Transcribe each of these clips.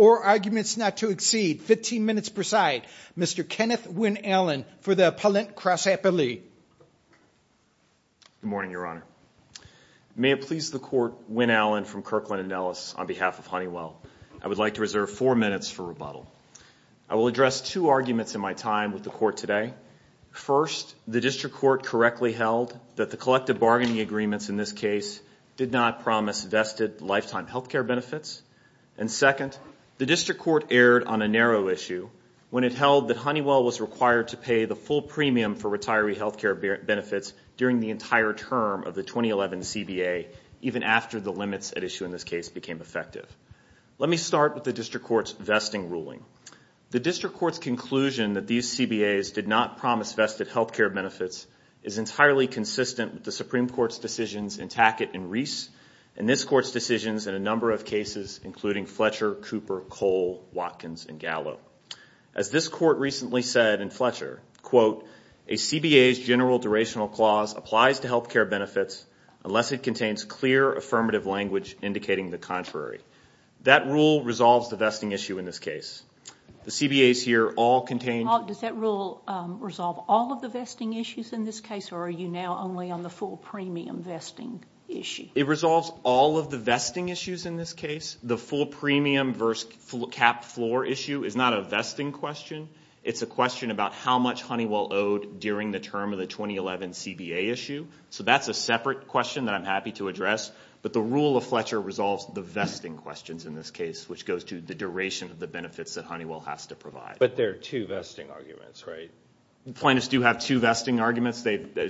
or arguments not to exceed 15 minutes per side Mr. Kenneth Wynne-Allen for the Appellate Cross Appellee. Good morning, Your Honor. May it please the Court, Wynne-Allen from Kirkland & Ellison. I would like to reserve four minutes for rebuttal. I will address two arguments in my time with the Court today. First, the District Court correctly held that the collective bargaining agreements in this case did not promise vested lifetime health care benefits. And second, the District Court erred on a narrow issue when it held that Honeywell was required to pay the full premium for retiree health care benefits during the entire term of the 2011 CBA even after the limits at issue in this case became effective. Let me start with the District Court's vesting ruling. The District Court's conclusion that these CBAs did not promise vested health care benefits is entirely consistent with the Supreme Court's decisions in Tackett and Reese and this Court's decisions in a number of cases including Fletcher, Cooper, Cole, Watkins, and Gallo. As this Court recently said in Fletcher, quote, a CBA's general durational clause applies to health care benefits unless it contains clear affirmative language indicating the contrary. That rule resolves the vesting issue in this case. The CBAs here all contain... Does that rule resolve all of the vesting issues in this case or are you now only on the full premium vesting issue? It resolves all of the vesting issues in this case. The full premium versus cap floor issue is not a vesting question. It's a question about how much Honeywell owed during the term of the 2011 CBA issue. So that's a separate question that I'm happy to address. But the rule of Fletcher resolves the vesting questions in this case, which goes to the duration of the benefits that Honeywell has to provide. But there are two vesting arguments, right? Plaintiffs do have two vesting arguments.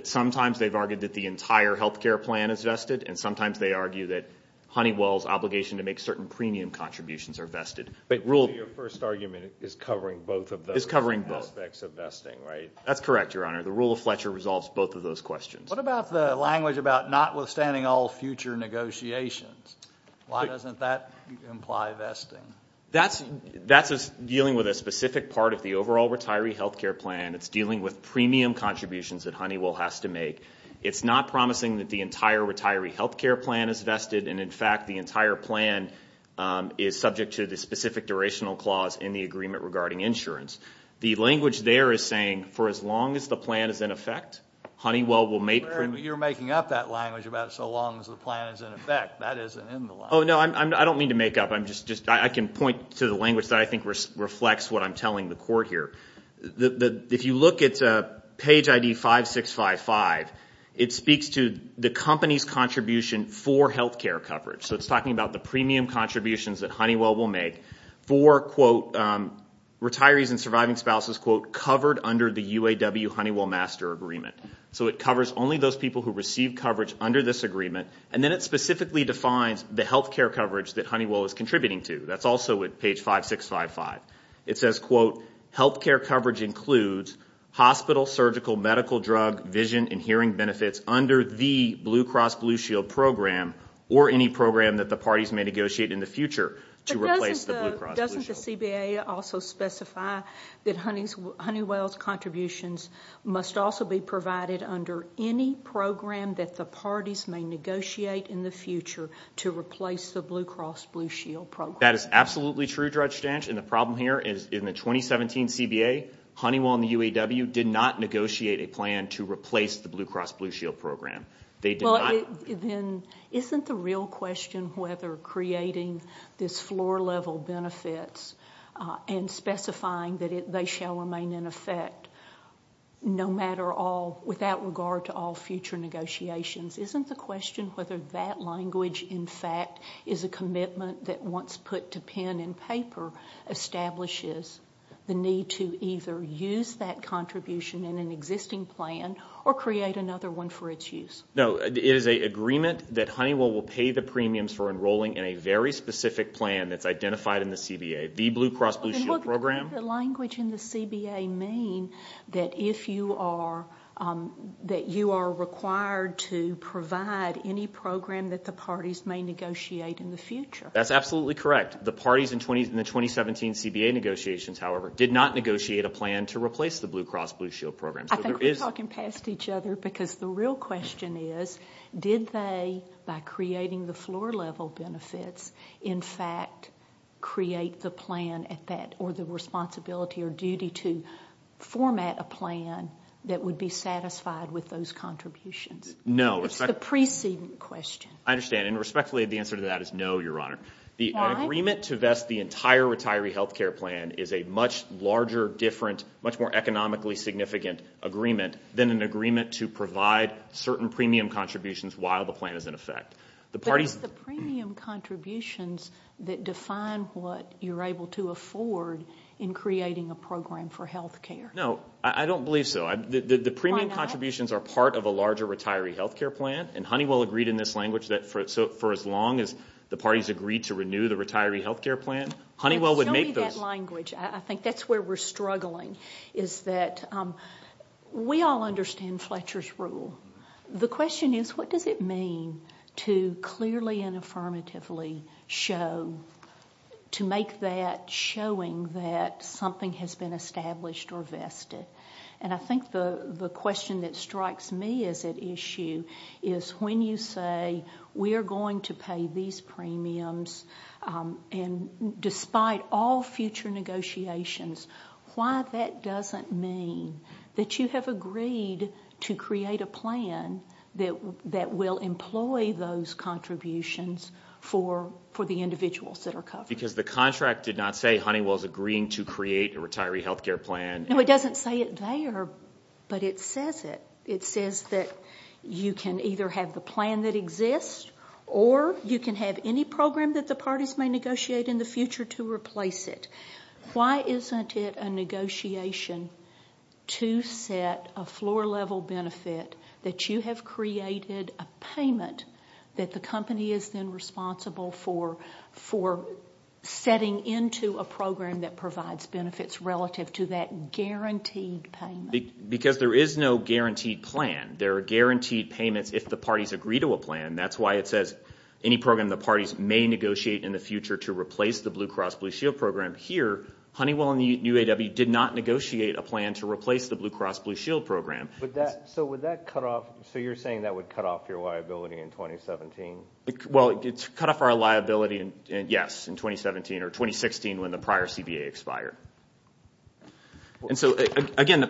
Sometimes they've argued that the entire health care plan is vested and sometimes they argue that Honeywell's obligation to make certain premium contributions are vested. But your first argument is covering both of those aspects of vesting, right? That's correct, Your Honor. The rule of Fletcher resolves both of those questions. What about the language about notwithstanding all future negotiations? Why doesn't that imply vesting? That's dealing with a specific part of the overall retiree health care plan. It's dealing with premium contributions that Honeywell has to make. It's not promising that the entire retiree health care plan is vested, and, in fact, the entire plan is subject to the specific durational clause in the agreement regarding insurance. The language there is saying for as long as the plan is in effect, Honeywell will make premium. You're making up that language about so long as the plan is in effect. That isn't in the language. Oh, no, I don't mean to make up. I can point to the language that I think reflects what I'm telling the court here. If you look at page ID 5655, it speaks to the company's contribution for health care coverage. So it's talking about the premium contributions that Honeywell will make for, quote, retirees and surviving spouses, quote, covered under the UAW Honeywell master agreement. So it covers only those people who receive coverage under this agreement, and then it specifically defines the health care coverage that Honeywell is contributing to. That's also at page 5655. It says, quote, health care coverage includes hospital, surgical, medical, drug, vision, and hearing benefits under the Blue Cross Blue Shield program or any program that the parties may negotiate in the future to replace the Blue Cross Blue Shield. But doesn't the CBA also specify that Honeywell's contributions must also be provided under any program that the parties may negotiate in the future to replace the Blue Cross Blue Shield program? That is absolutely true, Judge Stanch. And the problem here is in the 2017 CBA, Honeywell and the UAW did not negotiate a plan to replace the Blue Cross Blue Shield program. They did not. Then isn't the real question whether creating this floor-level benefits and specifying that they shall remain in effect no matter all, without regard to all future negotiations, isn't the question whether that language in fact is a commitment that once put to pen and paper establishes the need to either use that contribution in an existing plan or create another one for its use? No. It is an agreement that Honeywell will pay the premiums for enrolling in a very specific plan that's identified in the CBA, the Blue Cross Blue Shield program. Doesn't the language in the CBA mean that you are required to provide any program that the parties may negotiate in the future? That's absolutely correct. The parties in the 2017 CBA negotiations, however, did not negotiate a plan to replace the Blue Cross Blue Shield program. I think we're talking past each other because the real question is did they, by creating the floor-level benefits, in fact create the plan or the responsibility or duty to format a plan that would be satisfied with those contributions? No. It's the preceding question. I understand. And respectfully, the answer to that is no, Your Honor. Why? The agreement to vest the entire retiree health care plan is a much larger, different, much more economically significant agreement than an agreement to provide certain premium contributions while the plan is in effect. But it's the premium contributions that define what you're able to afford in creating a program for health care. No, I don't believe so. The premium contributions are part of a larger retiree health care plan, and Honeywell agreed in this language that for as long as the parties agreed to renew the retiree health care plan, Honeywell would make those. Show me that language. I think that's where we're struggling is that we all understand Fletcher's rule. The question is, what does it mean to clearly and affirmatively show, to make that showing that something has been established or vested? And I think the question that strikes me as at issue is when you say we're going to pay these premiums, and despite all future negotiations, why that doesn't mean that you have agreed to create a plan that will employ those contributions for the individuals that are covered. Because the contract did not say Honeywell is agreeing to create a retiree health care plan. No, it doesn't say it there, but it says it. It says that you can either have the plan that exists or you can have any program that the parties may negotiate in the future to replace it. Why isn't it a negotiation to set a floor-level benefit that you have created a payment that the company is then responsible for setting into a program that provides benefits relative to that guaranteed payment? Because there is no guaranteed plan. There are guaranteed payments if the parties agree to a plan. That's why it says any program the parties may negotiate in the future to replace the Blue Cross Blue Shield program. Here, Honeywell and the UAW did not negotiate a plan to replace the Blue Cross Blue Shield program. So you're saying that would cut off your liability in 2017? Well, it's cut off our liability, yes, in 2017 or 2016 when the prior CBA expired. And so, again,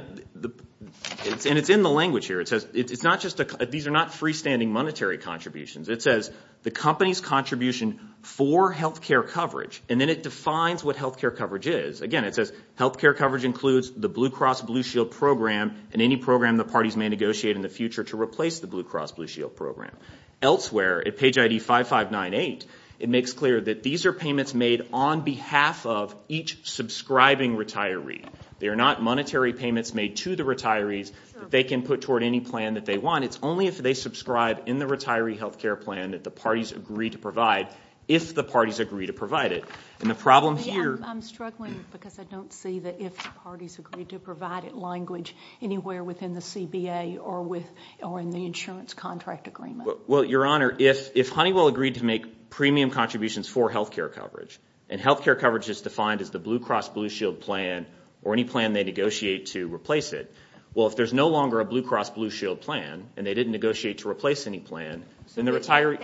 and it's in the language here. These are not freestanding monetary contributions. It says the company's contribution for health care coverage, and then it defines what health care coverage is. Again, it says health care coverage includes the Blue Cross Blue Shield program and any program the parties may negotiate in the future to replace the Blue Cross Blue Shield program. Elsewhere, at page ID 5598, it makes clear that these are payments made on behalf of each subscribing retiree. They are not monetary payments made to the retirees that they can put toward any plan that they want. It's only if they subscribe in the retiree health care plan that the parties agree to provide if the parties agree to provide it. And the problem here— I'm struggling because I don't see the if the parties agree to provide it language anywhere within the CBA or in the insurance contract agreement. Well, Your Honor, if Honeywell agreed to make premium contributions for health care coverage and health care coverage is defined as the Blue Cross Blue Shield plan or any plan they negotiate to replace it, well, if there's no longer a Blue Cross Blue Shield plan and they didn't negotiate to replace any plan, then the retiree—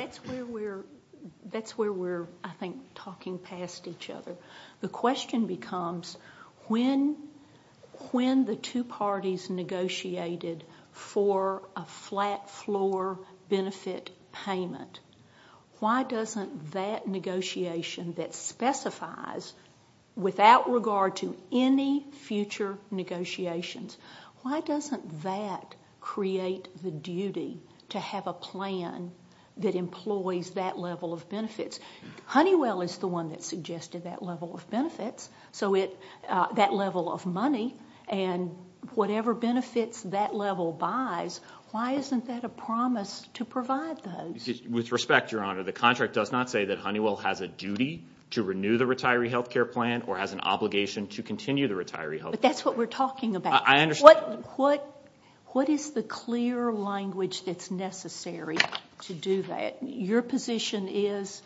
That's where we're, I think, talking past each other. The question becomes when the two parties negotiated for a flat floor benefit payment, why doesn't that negotiation that specifies without regard to any future negotiations, why doesn't that create the duty to have a plan that employs that level of benefits? Honeywell is the one that suggested that level of benefits, so that level of money, and whatever benefits that level buys, why isn't that a promise to provide those? With respect, Your Honor, the contract does not say that Honeywell has a duty to renew the retiree health care plan or has an obligation to continue the retiree health care plan. But that's what we're talking about. I understand. What is the clear language that's necessary to do that? Your position is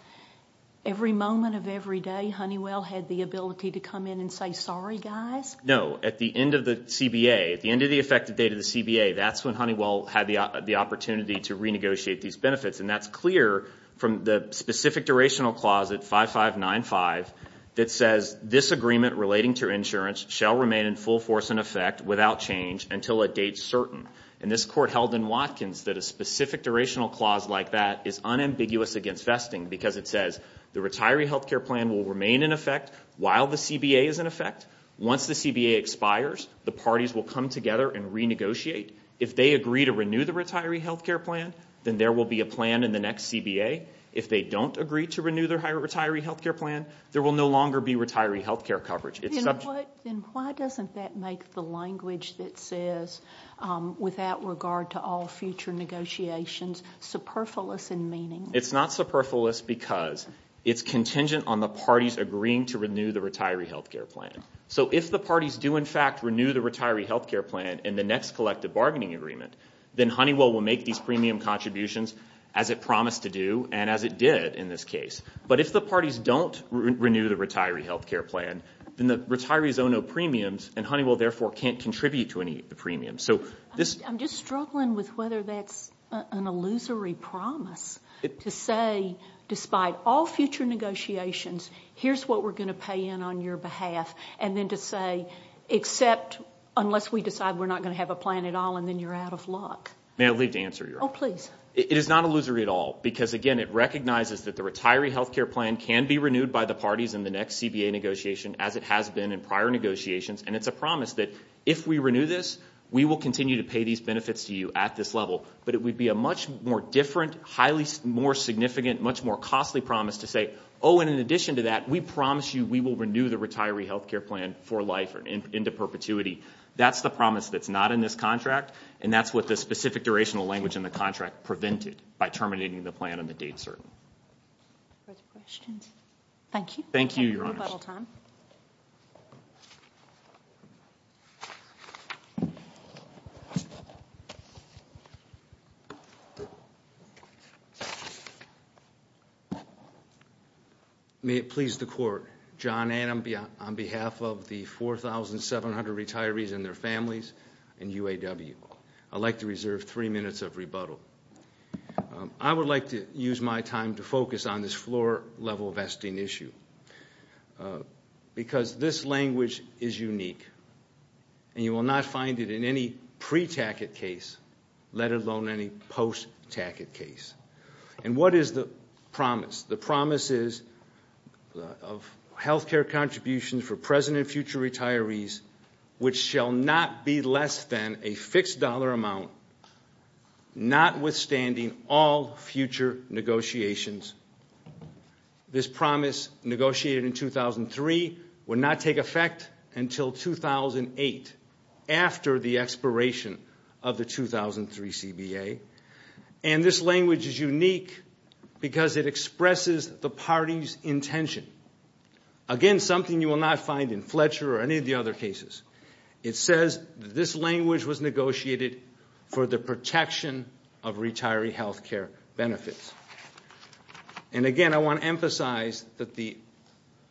every moment of every day Honeywell had the ability to come in and say, sorry, guys? No. At the end of the CBA, at the end of the effective date of the CBA, that's when Honeywell had the opportunity to renegotiate these benefits. And that's clear from the specific durational clause at 5595 that says, this agreement relating to insurance shall remain in full force and effect without change until it dates certain. And this court held in Watkins that a specific durational clause like that is unambiguous against vesting because it says the retiree health care plan will remain in effect while the CBA is in effect. Once the CBA expires, the parties will come together and renegotiate. If they agree to renew the retiree health care plan, then there will be a plan in the next CBA. If they don't agree to renew the retiree health care plan, there will no longer be retiree health care coverage. Then why doesn't that make the language that says, without regard to all future negotiations, superfluous in meaning? It's not superfluous because it's contingent on the parties agreeing to renew the retiree health care plan. So if the parties do, in fact, renew the retiree health care plan in the next collective bargaining agreement, then Honeywell will make these premium contributions as it promised to do and as it did in this case. But if the parties don't renew the retiree health care plan, then the retirees own no premiums, and Honeywell, therefore, can't contribute to any of the premiums. I'm just struggling with whether that's an illusory promise to say, despite all future negotiations, here's what we're going to pay in on your behalf, and then to say, except unless we decide we're not going to have a plan at all and then you're out of luck. May I leave to answer your question? Oh, please. It is not illusory at all because, again, it recognizes that the retiree health care plan can be renewed by the parties in the next CBA negotiation as it has been in prior negotiations, and it's a promise that if we renew this, we will continue to pay these benefits to you at this level. But it would be a much more different, highly more significant, much more costly promise to say, oh, and in addition to that, we promise you we will renew the retiree health care plan for life or into perpetuity. That's the promise that's not in this contract, and that's what the specific durational language in the contract prevented by terminating the plan on the date certain. Further questions? Thank you. Thank you, Your Honor. We have a little time. May it please the court. John Adam on behalf of the 4,700 retirees and their families in UAW. I'd like to reserve three minutes of rebuttal. I would like to use my time to focus on this floor-level vesting issue because this language is unique, and you will not find it in any pre-TACIT case, let alone any post-TACIT case. And what is the promise? The promise is of health care contributions for present and future retirees, which shall not be less than a fixed dollar amount, notwithstanding all future negotiations. This promise negotiated in 2003 will not take effect until 2008, after the expiration of the 2003 CBA, and this language is unique because it expresses the party's intention. Again, something you will not find in Fletcher or any of the other cases. It says this language was negotiated for the protection of retiree health care benefits. And again, I want to emphasize that the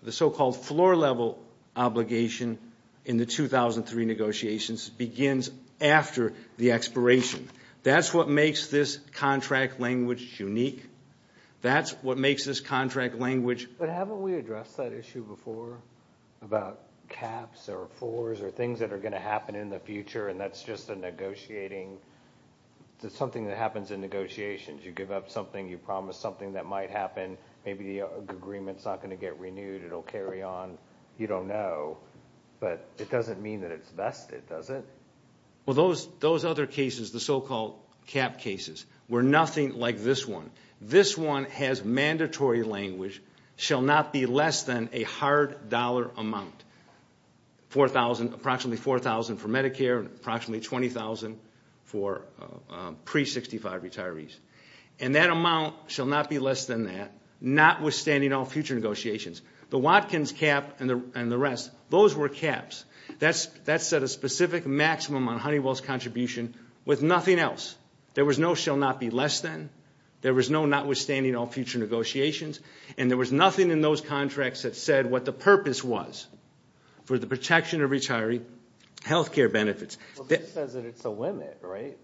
so-called floor-level obligation in the 2003 negotiations begins after the expiration. That's what makes this contract language unique. That's what makes this contract language unique. But haven't we addressed that issue before about caps or fours or things that are going to happen in the future, and that's just something that happens in negotiations. You give up something. You promise something that might happen. Maybe the agreement's not going to get renewed. It'll carry on. You don't know. But it doesn't mean that it's vested, does it? Well, those other cases, the so-called cap cases, were nothing like this one. This one has mandatory language, shall not be less than a hard dollar amount, approximately $4,000 for Medicare and approximately $20,000 for pre-'65 retirees. And that amount shall not be less than that, notwithstanding all future negotiations. The Watkins cap and the rest, those were caps. That set a specific maximum on Honeywell's contribution with nothing else. There was no shall not be less than. There was no notwithstanding all future negotiations. And there was nothing in those contracts that said what the purpose was for the protection of retiree health care benefits. But this says that it's a limit, right?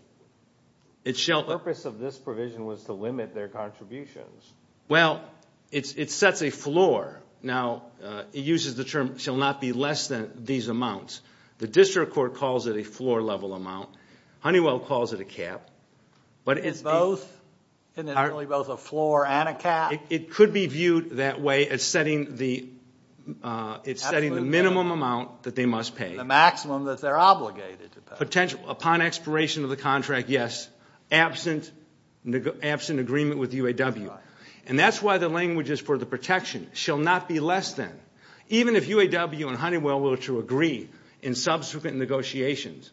The purpose of this provision was to limit their contributions. Well, it sets a floor. Now, it uses the term shall not be less than these amounts. The district court calls it a floor-level amount. Honeywell calls it a cap. But it's both, and it's really both a floor and a cap? It could be viewed that way as setting the minimum amount that they must pay. The maximum that they're obligated to pay. Upon expiration of the contract, yes, absent agreement with UAW. And that's why the language is for the protection, shall not be less than. Even if UAW and Honeywell were to agree in subsequent negotiations,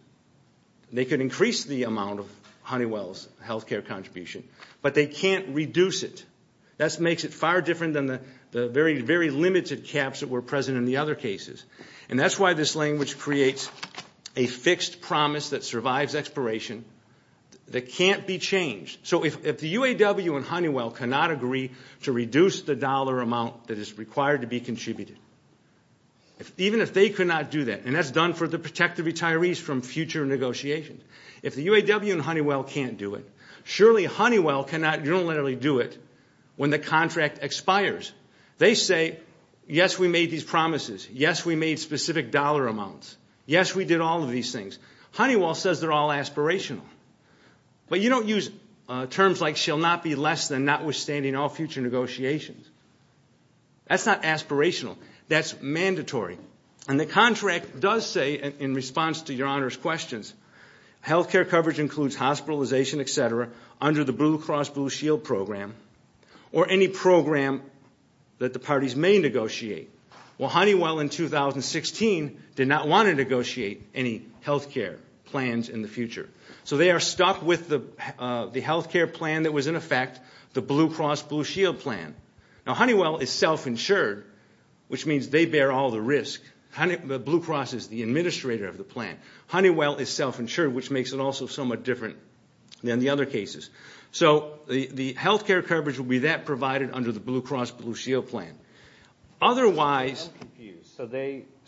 they could increase the amount of Honeywell's health care contribution, but they can't reduce it. That makes it far different than the very, very limited caps that were present in the other cases. And that's why this language creates a fixed promise that survives expiration that can't be changed. So if the UAW and Honeywell cannot agree to reduce the dollar amount that is required to be contributed, even if they could not do that, and that's done for the protective retirees from future negotiations. If the UAW and Honeywell can't do it, surely Honeywell cannot unilaterally do it when the contract expires. They say, yes, we made these promises. Yes, we made specific dollar amounts. Yes, we did all of these things. Honeywell says they're all aspirational. But you don't use terms like shall not be less than notwithstanding all future negotiations. That's not aspirational. That's mandatory. And the contract does say, in response to Your Honor's questions, health care coverage includes hospitalization, et cetera, under the Blue Cross Blue Shield program or any program that the parties may negotiate. Well, Honeywell in 2016 did not want to negotiate any health care plans in the future. So they are stuck with the health care plan that was in effect, the Blue Cross Blue Shield plan. Now, Honeywell is self-insured, which means they bear all the risk. Blue Cross is the administrator of the plan. Honeywell is self-insured, which makes it also somewhat different than the other cases. So the health care coverage will be that provided under the Blue Cross Blue Shield plan. Otherwise ‑‑ I'm confused.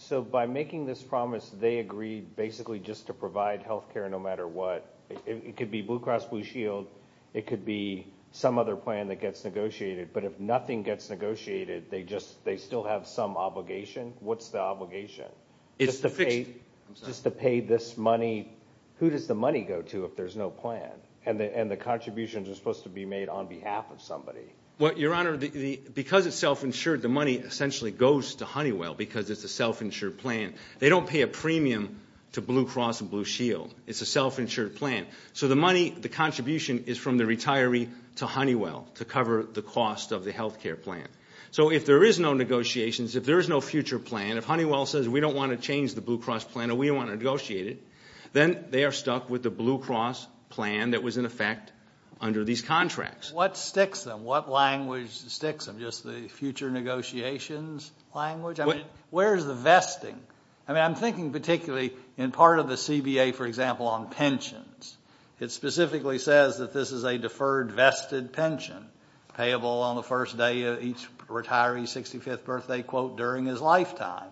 So by making this promise, they agreed basically just to provide health care no matter what. It could be Blue Cross Blue Shield. It could be some other plan that gets negotiated. But if nothing gets negotiated, they still have some obligation. What's the obligation? Just to pay this money. Who does the money go to if there's no plan? And the contributions are supposed to be made on behalf of somebody. Well, Your Honor, because it's self-insured, the money essentially goes to Honeywell because it's a self-insured plan. They don't pay a premium to Blue Cross Blue Shield. It's a self-insured plan. So the money, the contribution is from the retiree to Honeywell to cover the cost of the health care plan. So if there is no negotiations, if there is no future plan, if Honeywell says we don't want to change the Blue Cross plan or we don't want to negotiate it, then they are stuck with the Blue Cross plan that was in effect under these contracts. What sticks them? What language sticks them, just the future negotiations language? I mean, where is the vesting? I mean, I'm thinking particularly in part of the CBA, for example, on pensions. It specifically says that this is a deferred vested pension payable on the first day of each retiree's 65th birthday quote during his lifetime.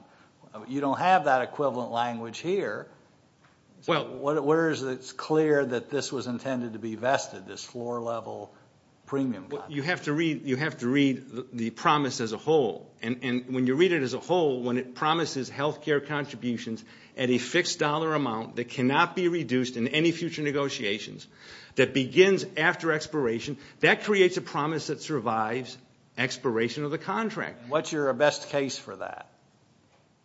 You don't have that equivalent language here. Well, where is it clear that this was intended to be vested, this floor-level premium contract? You have to read the promise as a whole. And when you read it as a whole, when it promises health care contributions at a fixed dollar amount that cannot be reduced in any future negotiations, that begins after expiration, that creates a promise that survives expiration of the contract. What's your best case for that?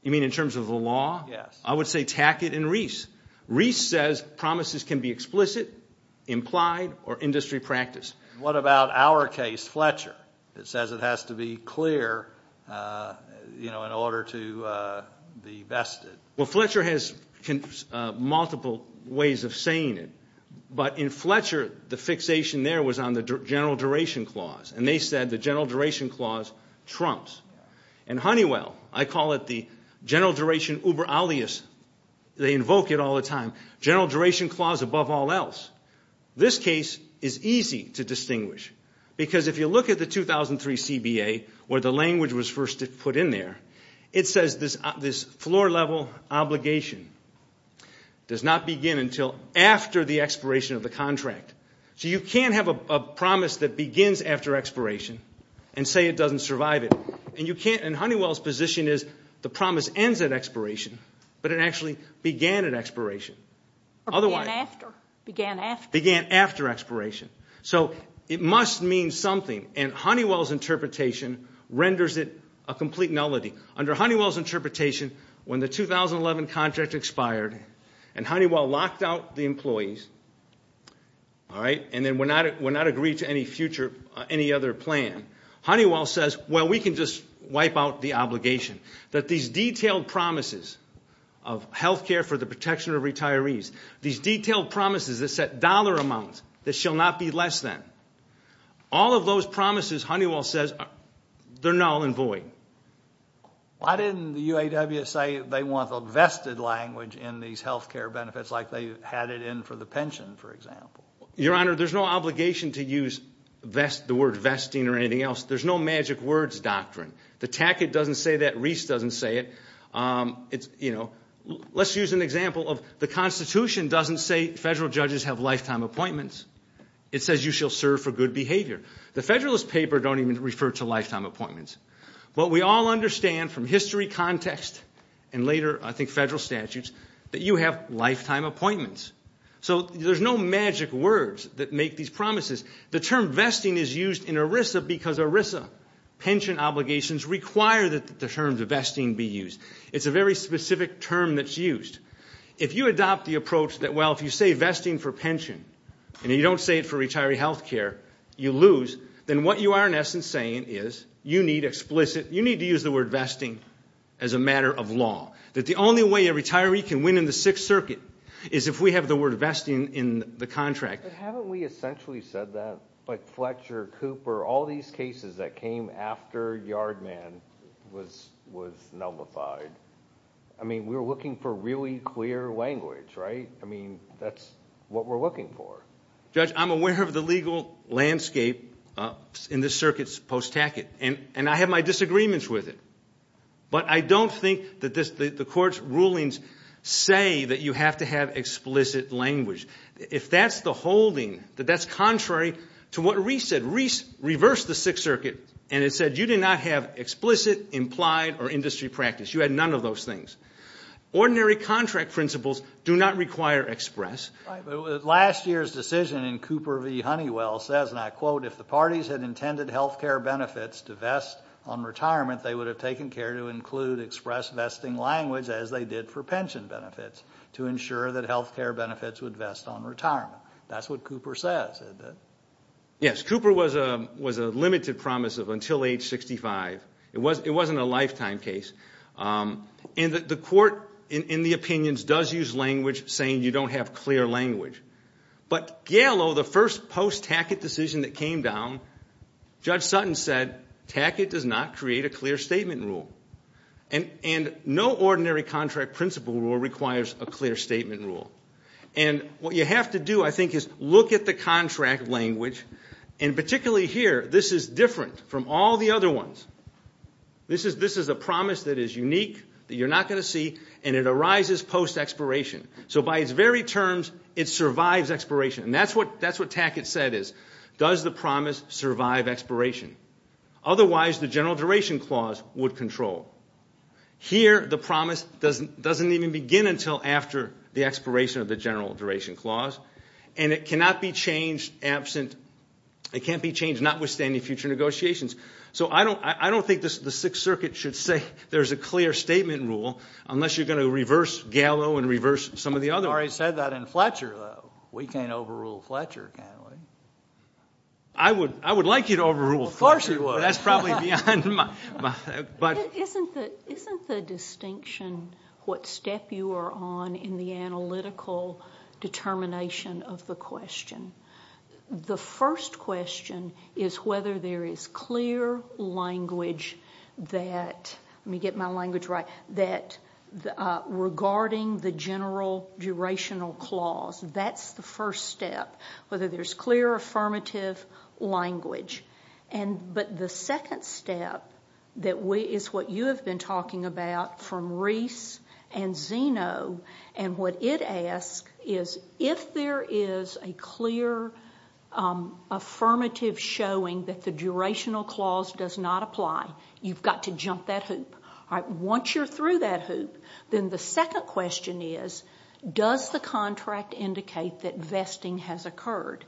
You mean in terms of the law? Yes. I would say Tackett and Reese. Reese says promises can be explicit, implied, or industry practice. What about our case, Fletcher? It says it has to be clear in order to be vested. Well, Fletcher has multiple ways of saying it. But in Fletcher, the fixation there was on the general duration clause, and they said the general duration clause trumps. And Honeywell, I call it the general duration uber alias. They invoke it all the time. General duration clause above all else. This case is easy to distinguish because if you look at the 2003 CBA, where the language was first put in there, it says this floor-level obligation does not begin until after the expiration of the contract. So you can't have a promise that begins after expiration and say it doesn't survive it. And Honeywell's position is the promise ends at expiration, but it actually began at expiration. Or began after. Began after expiration. So it must mean something, and Honeywell's interpretation renders it a complete nullity. Under Honeywell's interpretation, when the 2011 contract expired and Honeywell locked out the employees, all right, and then would not agree to any future, any other plan, Honeywell says, well, we can just wipe out the obligation. That these detailed promises of health care for the protection of retirees, these detailed promises that set dollar amounts that shall not be less than, all of those promises, Honeywell says, they're null and void. Why didn't the UAW say they want the vested language in these health care benefits like they had it in for the pension, for example? Your Honor, there's no obligation to use the word vesting or anything else. There's no magic words doctrine. The tacket doesn't say that. Reese doesn't say it. Let's use an example of the Constitution doesn't say federal judges have lifetime appointments. It says you shall serve for good behavior. The Federalist Paper don't even refer to lifetime appointments. What we all understand from history, context, and later, I think, federal statutes, that you have lifetime appointments. So there's no magic words that make these promises. The term vesting is used in ERISA because ERISA pension obligations require that the term vesting be used. It's a very specific term that's used. If you adopt the approach that, well, if you say vesting for pension and you don't say it for retiree health care, you lose, then what you are in essence saying is you need explicit, you need to use the word vesting as a matter of law, that the only way a retiree can win in the Sixth Circuit is if we have the word vesting in the contract. But haven't we essentially said that? Like Fletcher, Cooper, all these cases that came after Yardman was nullified. I mean, we were looking for really clear language, right? I mean, that's what we're looking for. Judge, I'm aware of the legal landscape in this circuit's post-tackit, and I have my disagreements with it. But I don't think that the court's rulings say that you have to have explicit language. If that's the holding, that that's contrary to what Reese said, Reese reversed the Sixth Circuit and it said you did not have explicit implied or industry practice. You had none of those things. Ordinary contract principles do not require express. Right, but last year's decision in Cooper v. Honeywell says, and I quote, if the parties had intended health care benefits to vest on retirement, they would have taken care to include express vesting language as they did for pension benefits to ensure that health care benefits would vest on retirement. That's what Cooper says, isn't it? Yes, Cooper was a limited promise of until age 65. It wasn't a lifetime case. And the court, in the opinions, does use language saying you don't have clear language. But Gallo, the first post-tackit decision that came down, Judge Sutton said, tackit does not create a clear statement rule. And no ordinary contract principle rule requires a clear statement rule. And what you have to do, I think, is look at the contract language, and particularly here, this is different from all the other ones. This is a promise that is unique, that you're not going to see, and it arises post-expiration. So by its very terms, it survives expiration. And that's what tackit said is, does the promise survive expiration? Otherwise, the general duration clause would control. Here, the promise doesn't even begin until after the expiration of the general duration clause, and it cannot be changed notwithstanding future negotiations. So I don't think the Sixth Circuit should say there's a clear statement rule, unless you're going to reverse Gallo and reverse some of the other ones. I've already said that in Fletcher, though. We can't overrule Fletcher, can we? I would like you to overrule Fletcher. Of course you would. But that's probably beyond my— Isn't the distinction what step you are on in the analytical determination of the question? The first question is whether there is clear language that—let me get my language right— regarding the general durational clause. That's the first step, whether there's clear, affirmative language. But the second step is what you have been talking about from Reese and Zeno. What it asks is if there is a clear, affirmative showing that the durational clause does not apply, you've got to jump that hoop. Once you're through that hoop, then the second question is, does the contract indicate that vesting has occurred?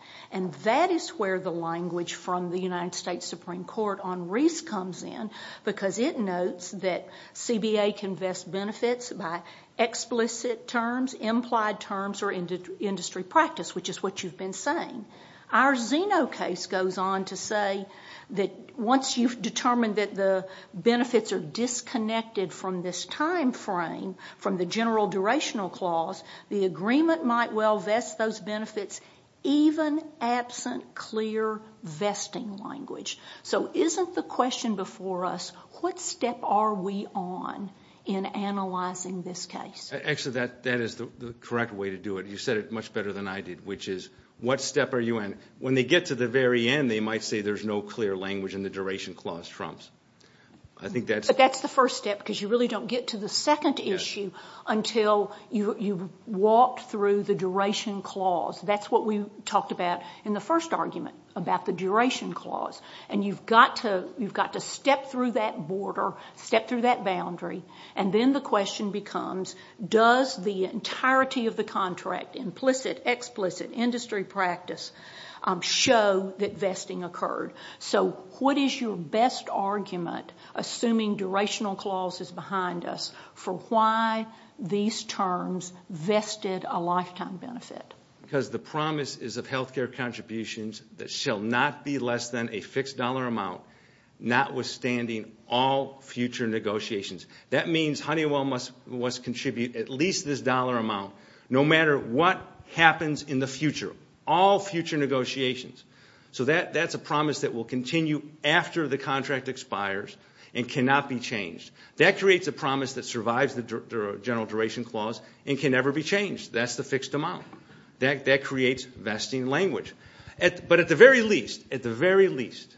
That is where the language from the United States Supreme Court on Reese comes in, because it notes that CBA can vest benefits by explicit terms, implied terms, or industry practice, which is what you've been saying. Our Zeno case goes on to say that once you've determined that the benefits are disconnected from this time frame, from the general durational clause, the agreement might well vest those benefits, even absent clear vesting language. So isn't the question before us, what step are we on in analyzing this case? Actually, that is the correct way to do it. You said it much better than I did, which is, what step are you in? When they get to the very end, they might say there's no clear language and the duration clause trumps. I think that's— But that's the first step, because you really don't get to the second issue until you've walked through the duration clause. That's what we talked about in the first argument, about the duration clause. And you've got to step through that border, step through that boundary, and then the question becomes, does the entirety of the contract, implicit, explicit, industry practice, show that vesting occurred? So what is your best argument, assuming durational clause is behind us, for why these terms vested a lifetime benefit? Because the promise is of health care contributions that shall not be less than a fixed dollar amount, notwithstanding all future negotiations. That means Honeywell must contribute at least this dollar amount, no matter what happens in the future, all future negotiations. So that's a promise that will continue after the contract expires and cannot be changed. That creates a promise that survives the general duration clause and can never be changed. That's the fixed amount. That creates vesting language. But at the very least, at the very least,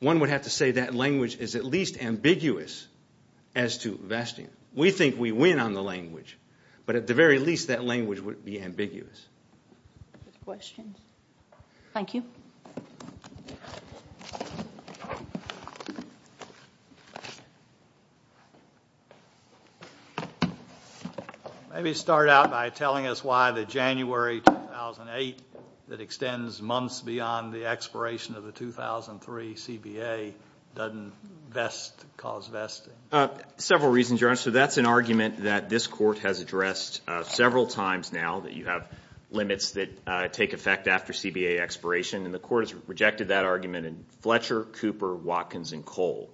one would have to say that language is at least ambiguous as to vesting. We think we win on the language, but at the very least, that language would be ambiguous. Questions? Thank you. Thank you. Maybe start out by telling us why the January 2008 that extends months beyond the expiration of the 2003 CBA doesn't cause vesting. Several reasons, Your Honor. So that's an argument that this Court has addressed several times now, that you have limits that take effect after CBA expiration, and the Court has rejected that argument in Fletcher, Cooper, Watkins, and Kohl.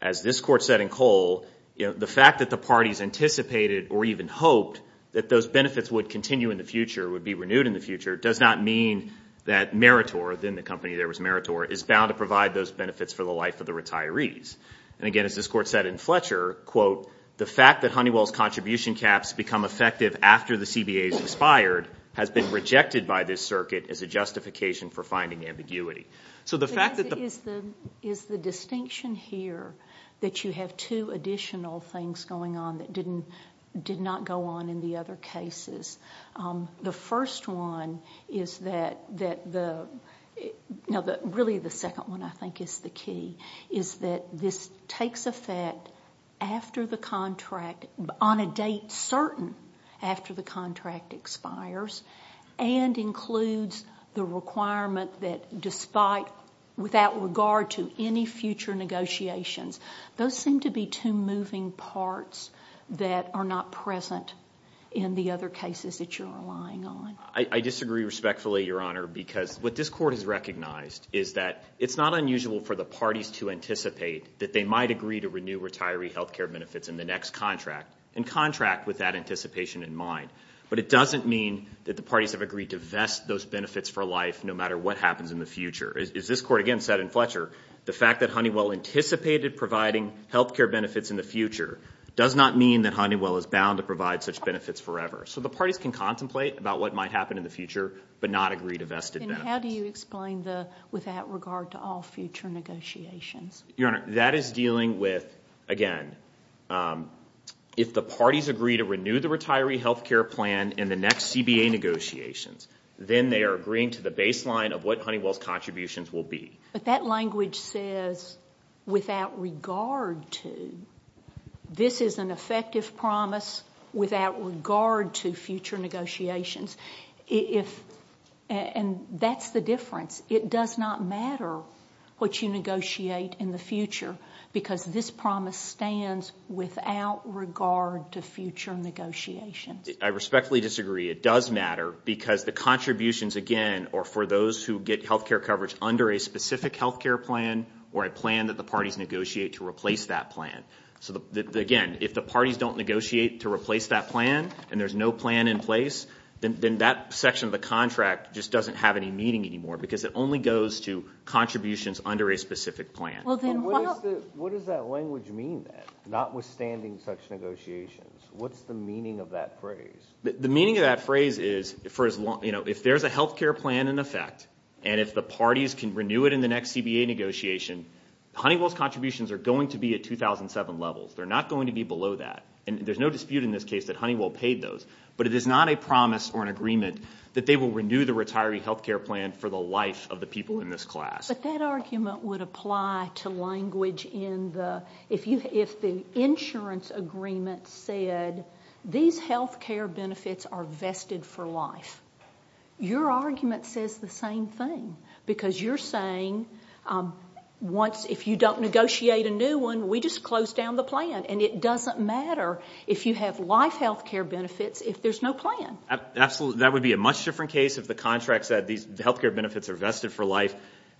As this Court said in Kohl, the fact that the parties anticipated or even hoped that those benefits would continue in the future, would be renewed in the future, does not mean that Meritor, within the company there was Meritor, is bound to provide those benefits for the life of the retirees. And again, as this Court said in Fletcher, quote, the fact that Honeywell's contribution caps become effective after the CBA is expired, has been rejected by this circuit as a justification for finding ambiguity. So the fact that the – Is the distinction here that you have two additional things going on that did not go on in the other cases? The first one is that the – no, really the second one I think is the key, is that this takes effect after the contract, on a date certain after the contract expires, and includes the requirement that despite, without regard to any future negotiations, those seem to be two moving parts that are not present in the other cases that you're relying on. I disagree respectfully, Your Honor, because what this Court has recognized is that it's not unusual for the parties to anticipate that they might agree to renew retiree health care benefits in the next contract, and contract with that anticipation in mind. But it doesn't mean that the parties have agreed to vest those benefits for life no matter what happens in the future. As this Court again said in Fletcher, the fact that Honeywell anticipated providing health care benefits in the future does not mean that Honeywell is bound to provide such benefits forever. So the parties can contemplate about what might happen in the future, but not agree to vested benefits. Then how do you explain the without regard to all future negotiations? Your Honor, that is dealing with, again, if the parties agree to renew the retiree health care plan in the next CBA negotiations, then they are agreeing to the baseline of what Honeywell's contributions will be. But that language says without regard to. This is an effective promise without regard to future negotiations. And that's the difference. It does not matter what you negotiate in the future, because this promise stands without regard to future negotiations. I respectfully disagree. It does matter because the contributions, again, are for those who get health care coverage under a specific health care plan or a plan that the parties negotiate to replace that plan. So again, if the parties don't negotiate to replace that plan, and there's no plan in place, then that section of the contract just doesn't have any meaning anymore because it only goes to contributions under a specific plan. What does that language mean then, notwithstanding such negotiations? What's the meaning of that phrase? The meaning of that phrase is if there's a health care plan in effect and if the parties can renew it in the next CBA negotiation, Honeywell's contributions are going to be at 2007 levels. They're not going to be below that. And there's no dispute in this case that Honeywell paid those, but it is not a promise or an agreement that they will renew the retiree health care plan for the life of the people in this class. But that argument would apply to language if the insurance agreement said, these health care benefits are vested for life. Your argument says the same thing because you're saying, if you don't negotiate a new one, we just close down the plan, and it doesn't matter if you have life health care benefits if there's no plan. Absolutely. That would be a much different case if the contract said, these health care benefits are vested for life.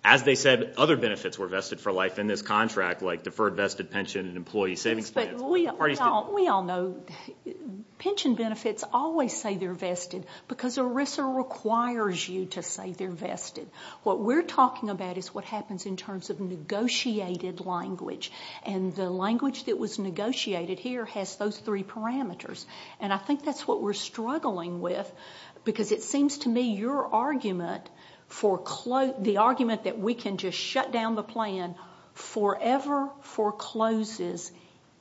As they said, other benefits were vested for life in this contract, like deferred vested pension and employee savings plans. We all know pension benefits always say they're vested because ERISA requires you to say they're vested. What we're talking about is what happens in terms of negotiated language, and the language that was negotiated here has those three parameters. I think that's what we're struggling with because it seems to me your argument, the argument that we can just shut down the plan, forever forecloses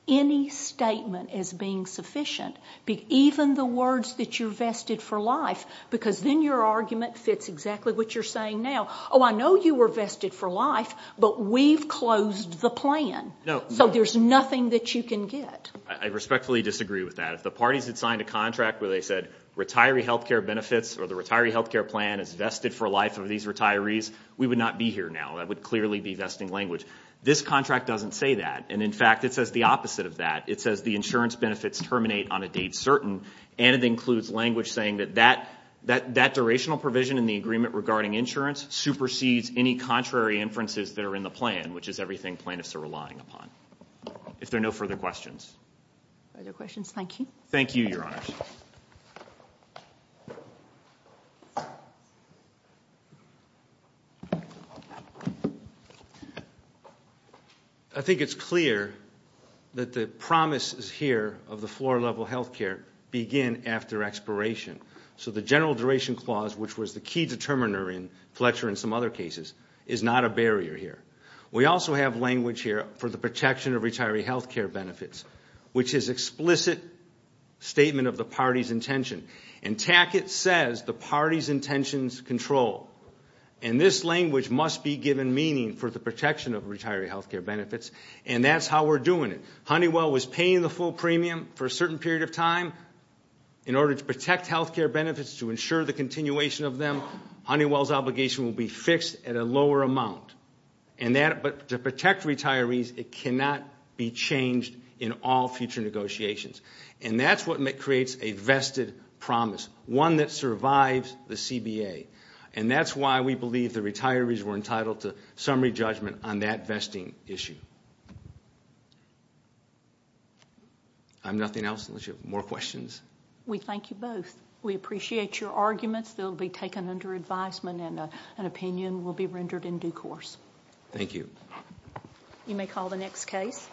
any statement as being sufficient, even the words that you're vested for life, because then your argument fits exactly what you're saying now. Oh, I know you were vested for life, but we've closed the plan, so there's nothing that you can get. I respectfully disagree with that. If the parties had signed a contract where they said retiree health care benefits or the retiree health care plan is vested for life of these retirees, we would not be here now. That would clearly be vesting language. This contract doesn't say that. In fact, it says the opposite of that. It says the insurance benefits terminate on a date certain, and it includes language saying that that durational provision in the agreement regarding insurance supersedes any contrary inferences that are in the plan, which is everything plaintiffs are relying upon. If there are no further questions. Further questions? Thank you. Thank you, Your Honors. I think it's clear that the promises here of the floor-level health care begin after expiration. So the general duration clause, which was the key determiner in Fletcher and some other cases, is not a barrier here. We also have language here for the protection of retiree health care benefits, which is explicit statement of the party's intention. And Tackett says the party's intentions control, and this language must be given meaning for the protection of retiree health care benefits, and that's how we're doing it. Honeywell was paying the full premium for a certain period of time in order to protect health care benefits to ensure the continuation of them. Honeywell's obligation will be fixed at a lower amount. But to protect retirees, it cannot be changed in all future negotiations. And that's what creates a vested promise, one that survives the CBA. And that's why we believe the retirees were entitled to summary judgment on that vesting issue. I have nothing else unless you have more questions. We thank you both. We appreciate your arguments. They'll be taken under advisement, and an opinion will be rendered in due course. Thank you. You may call the next case.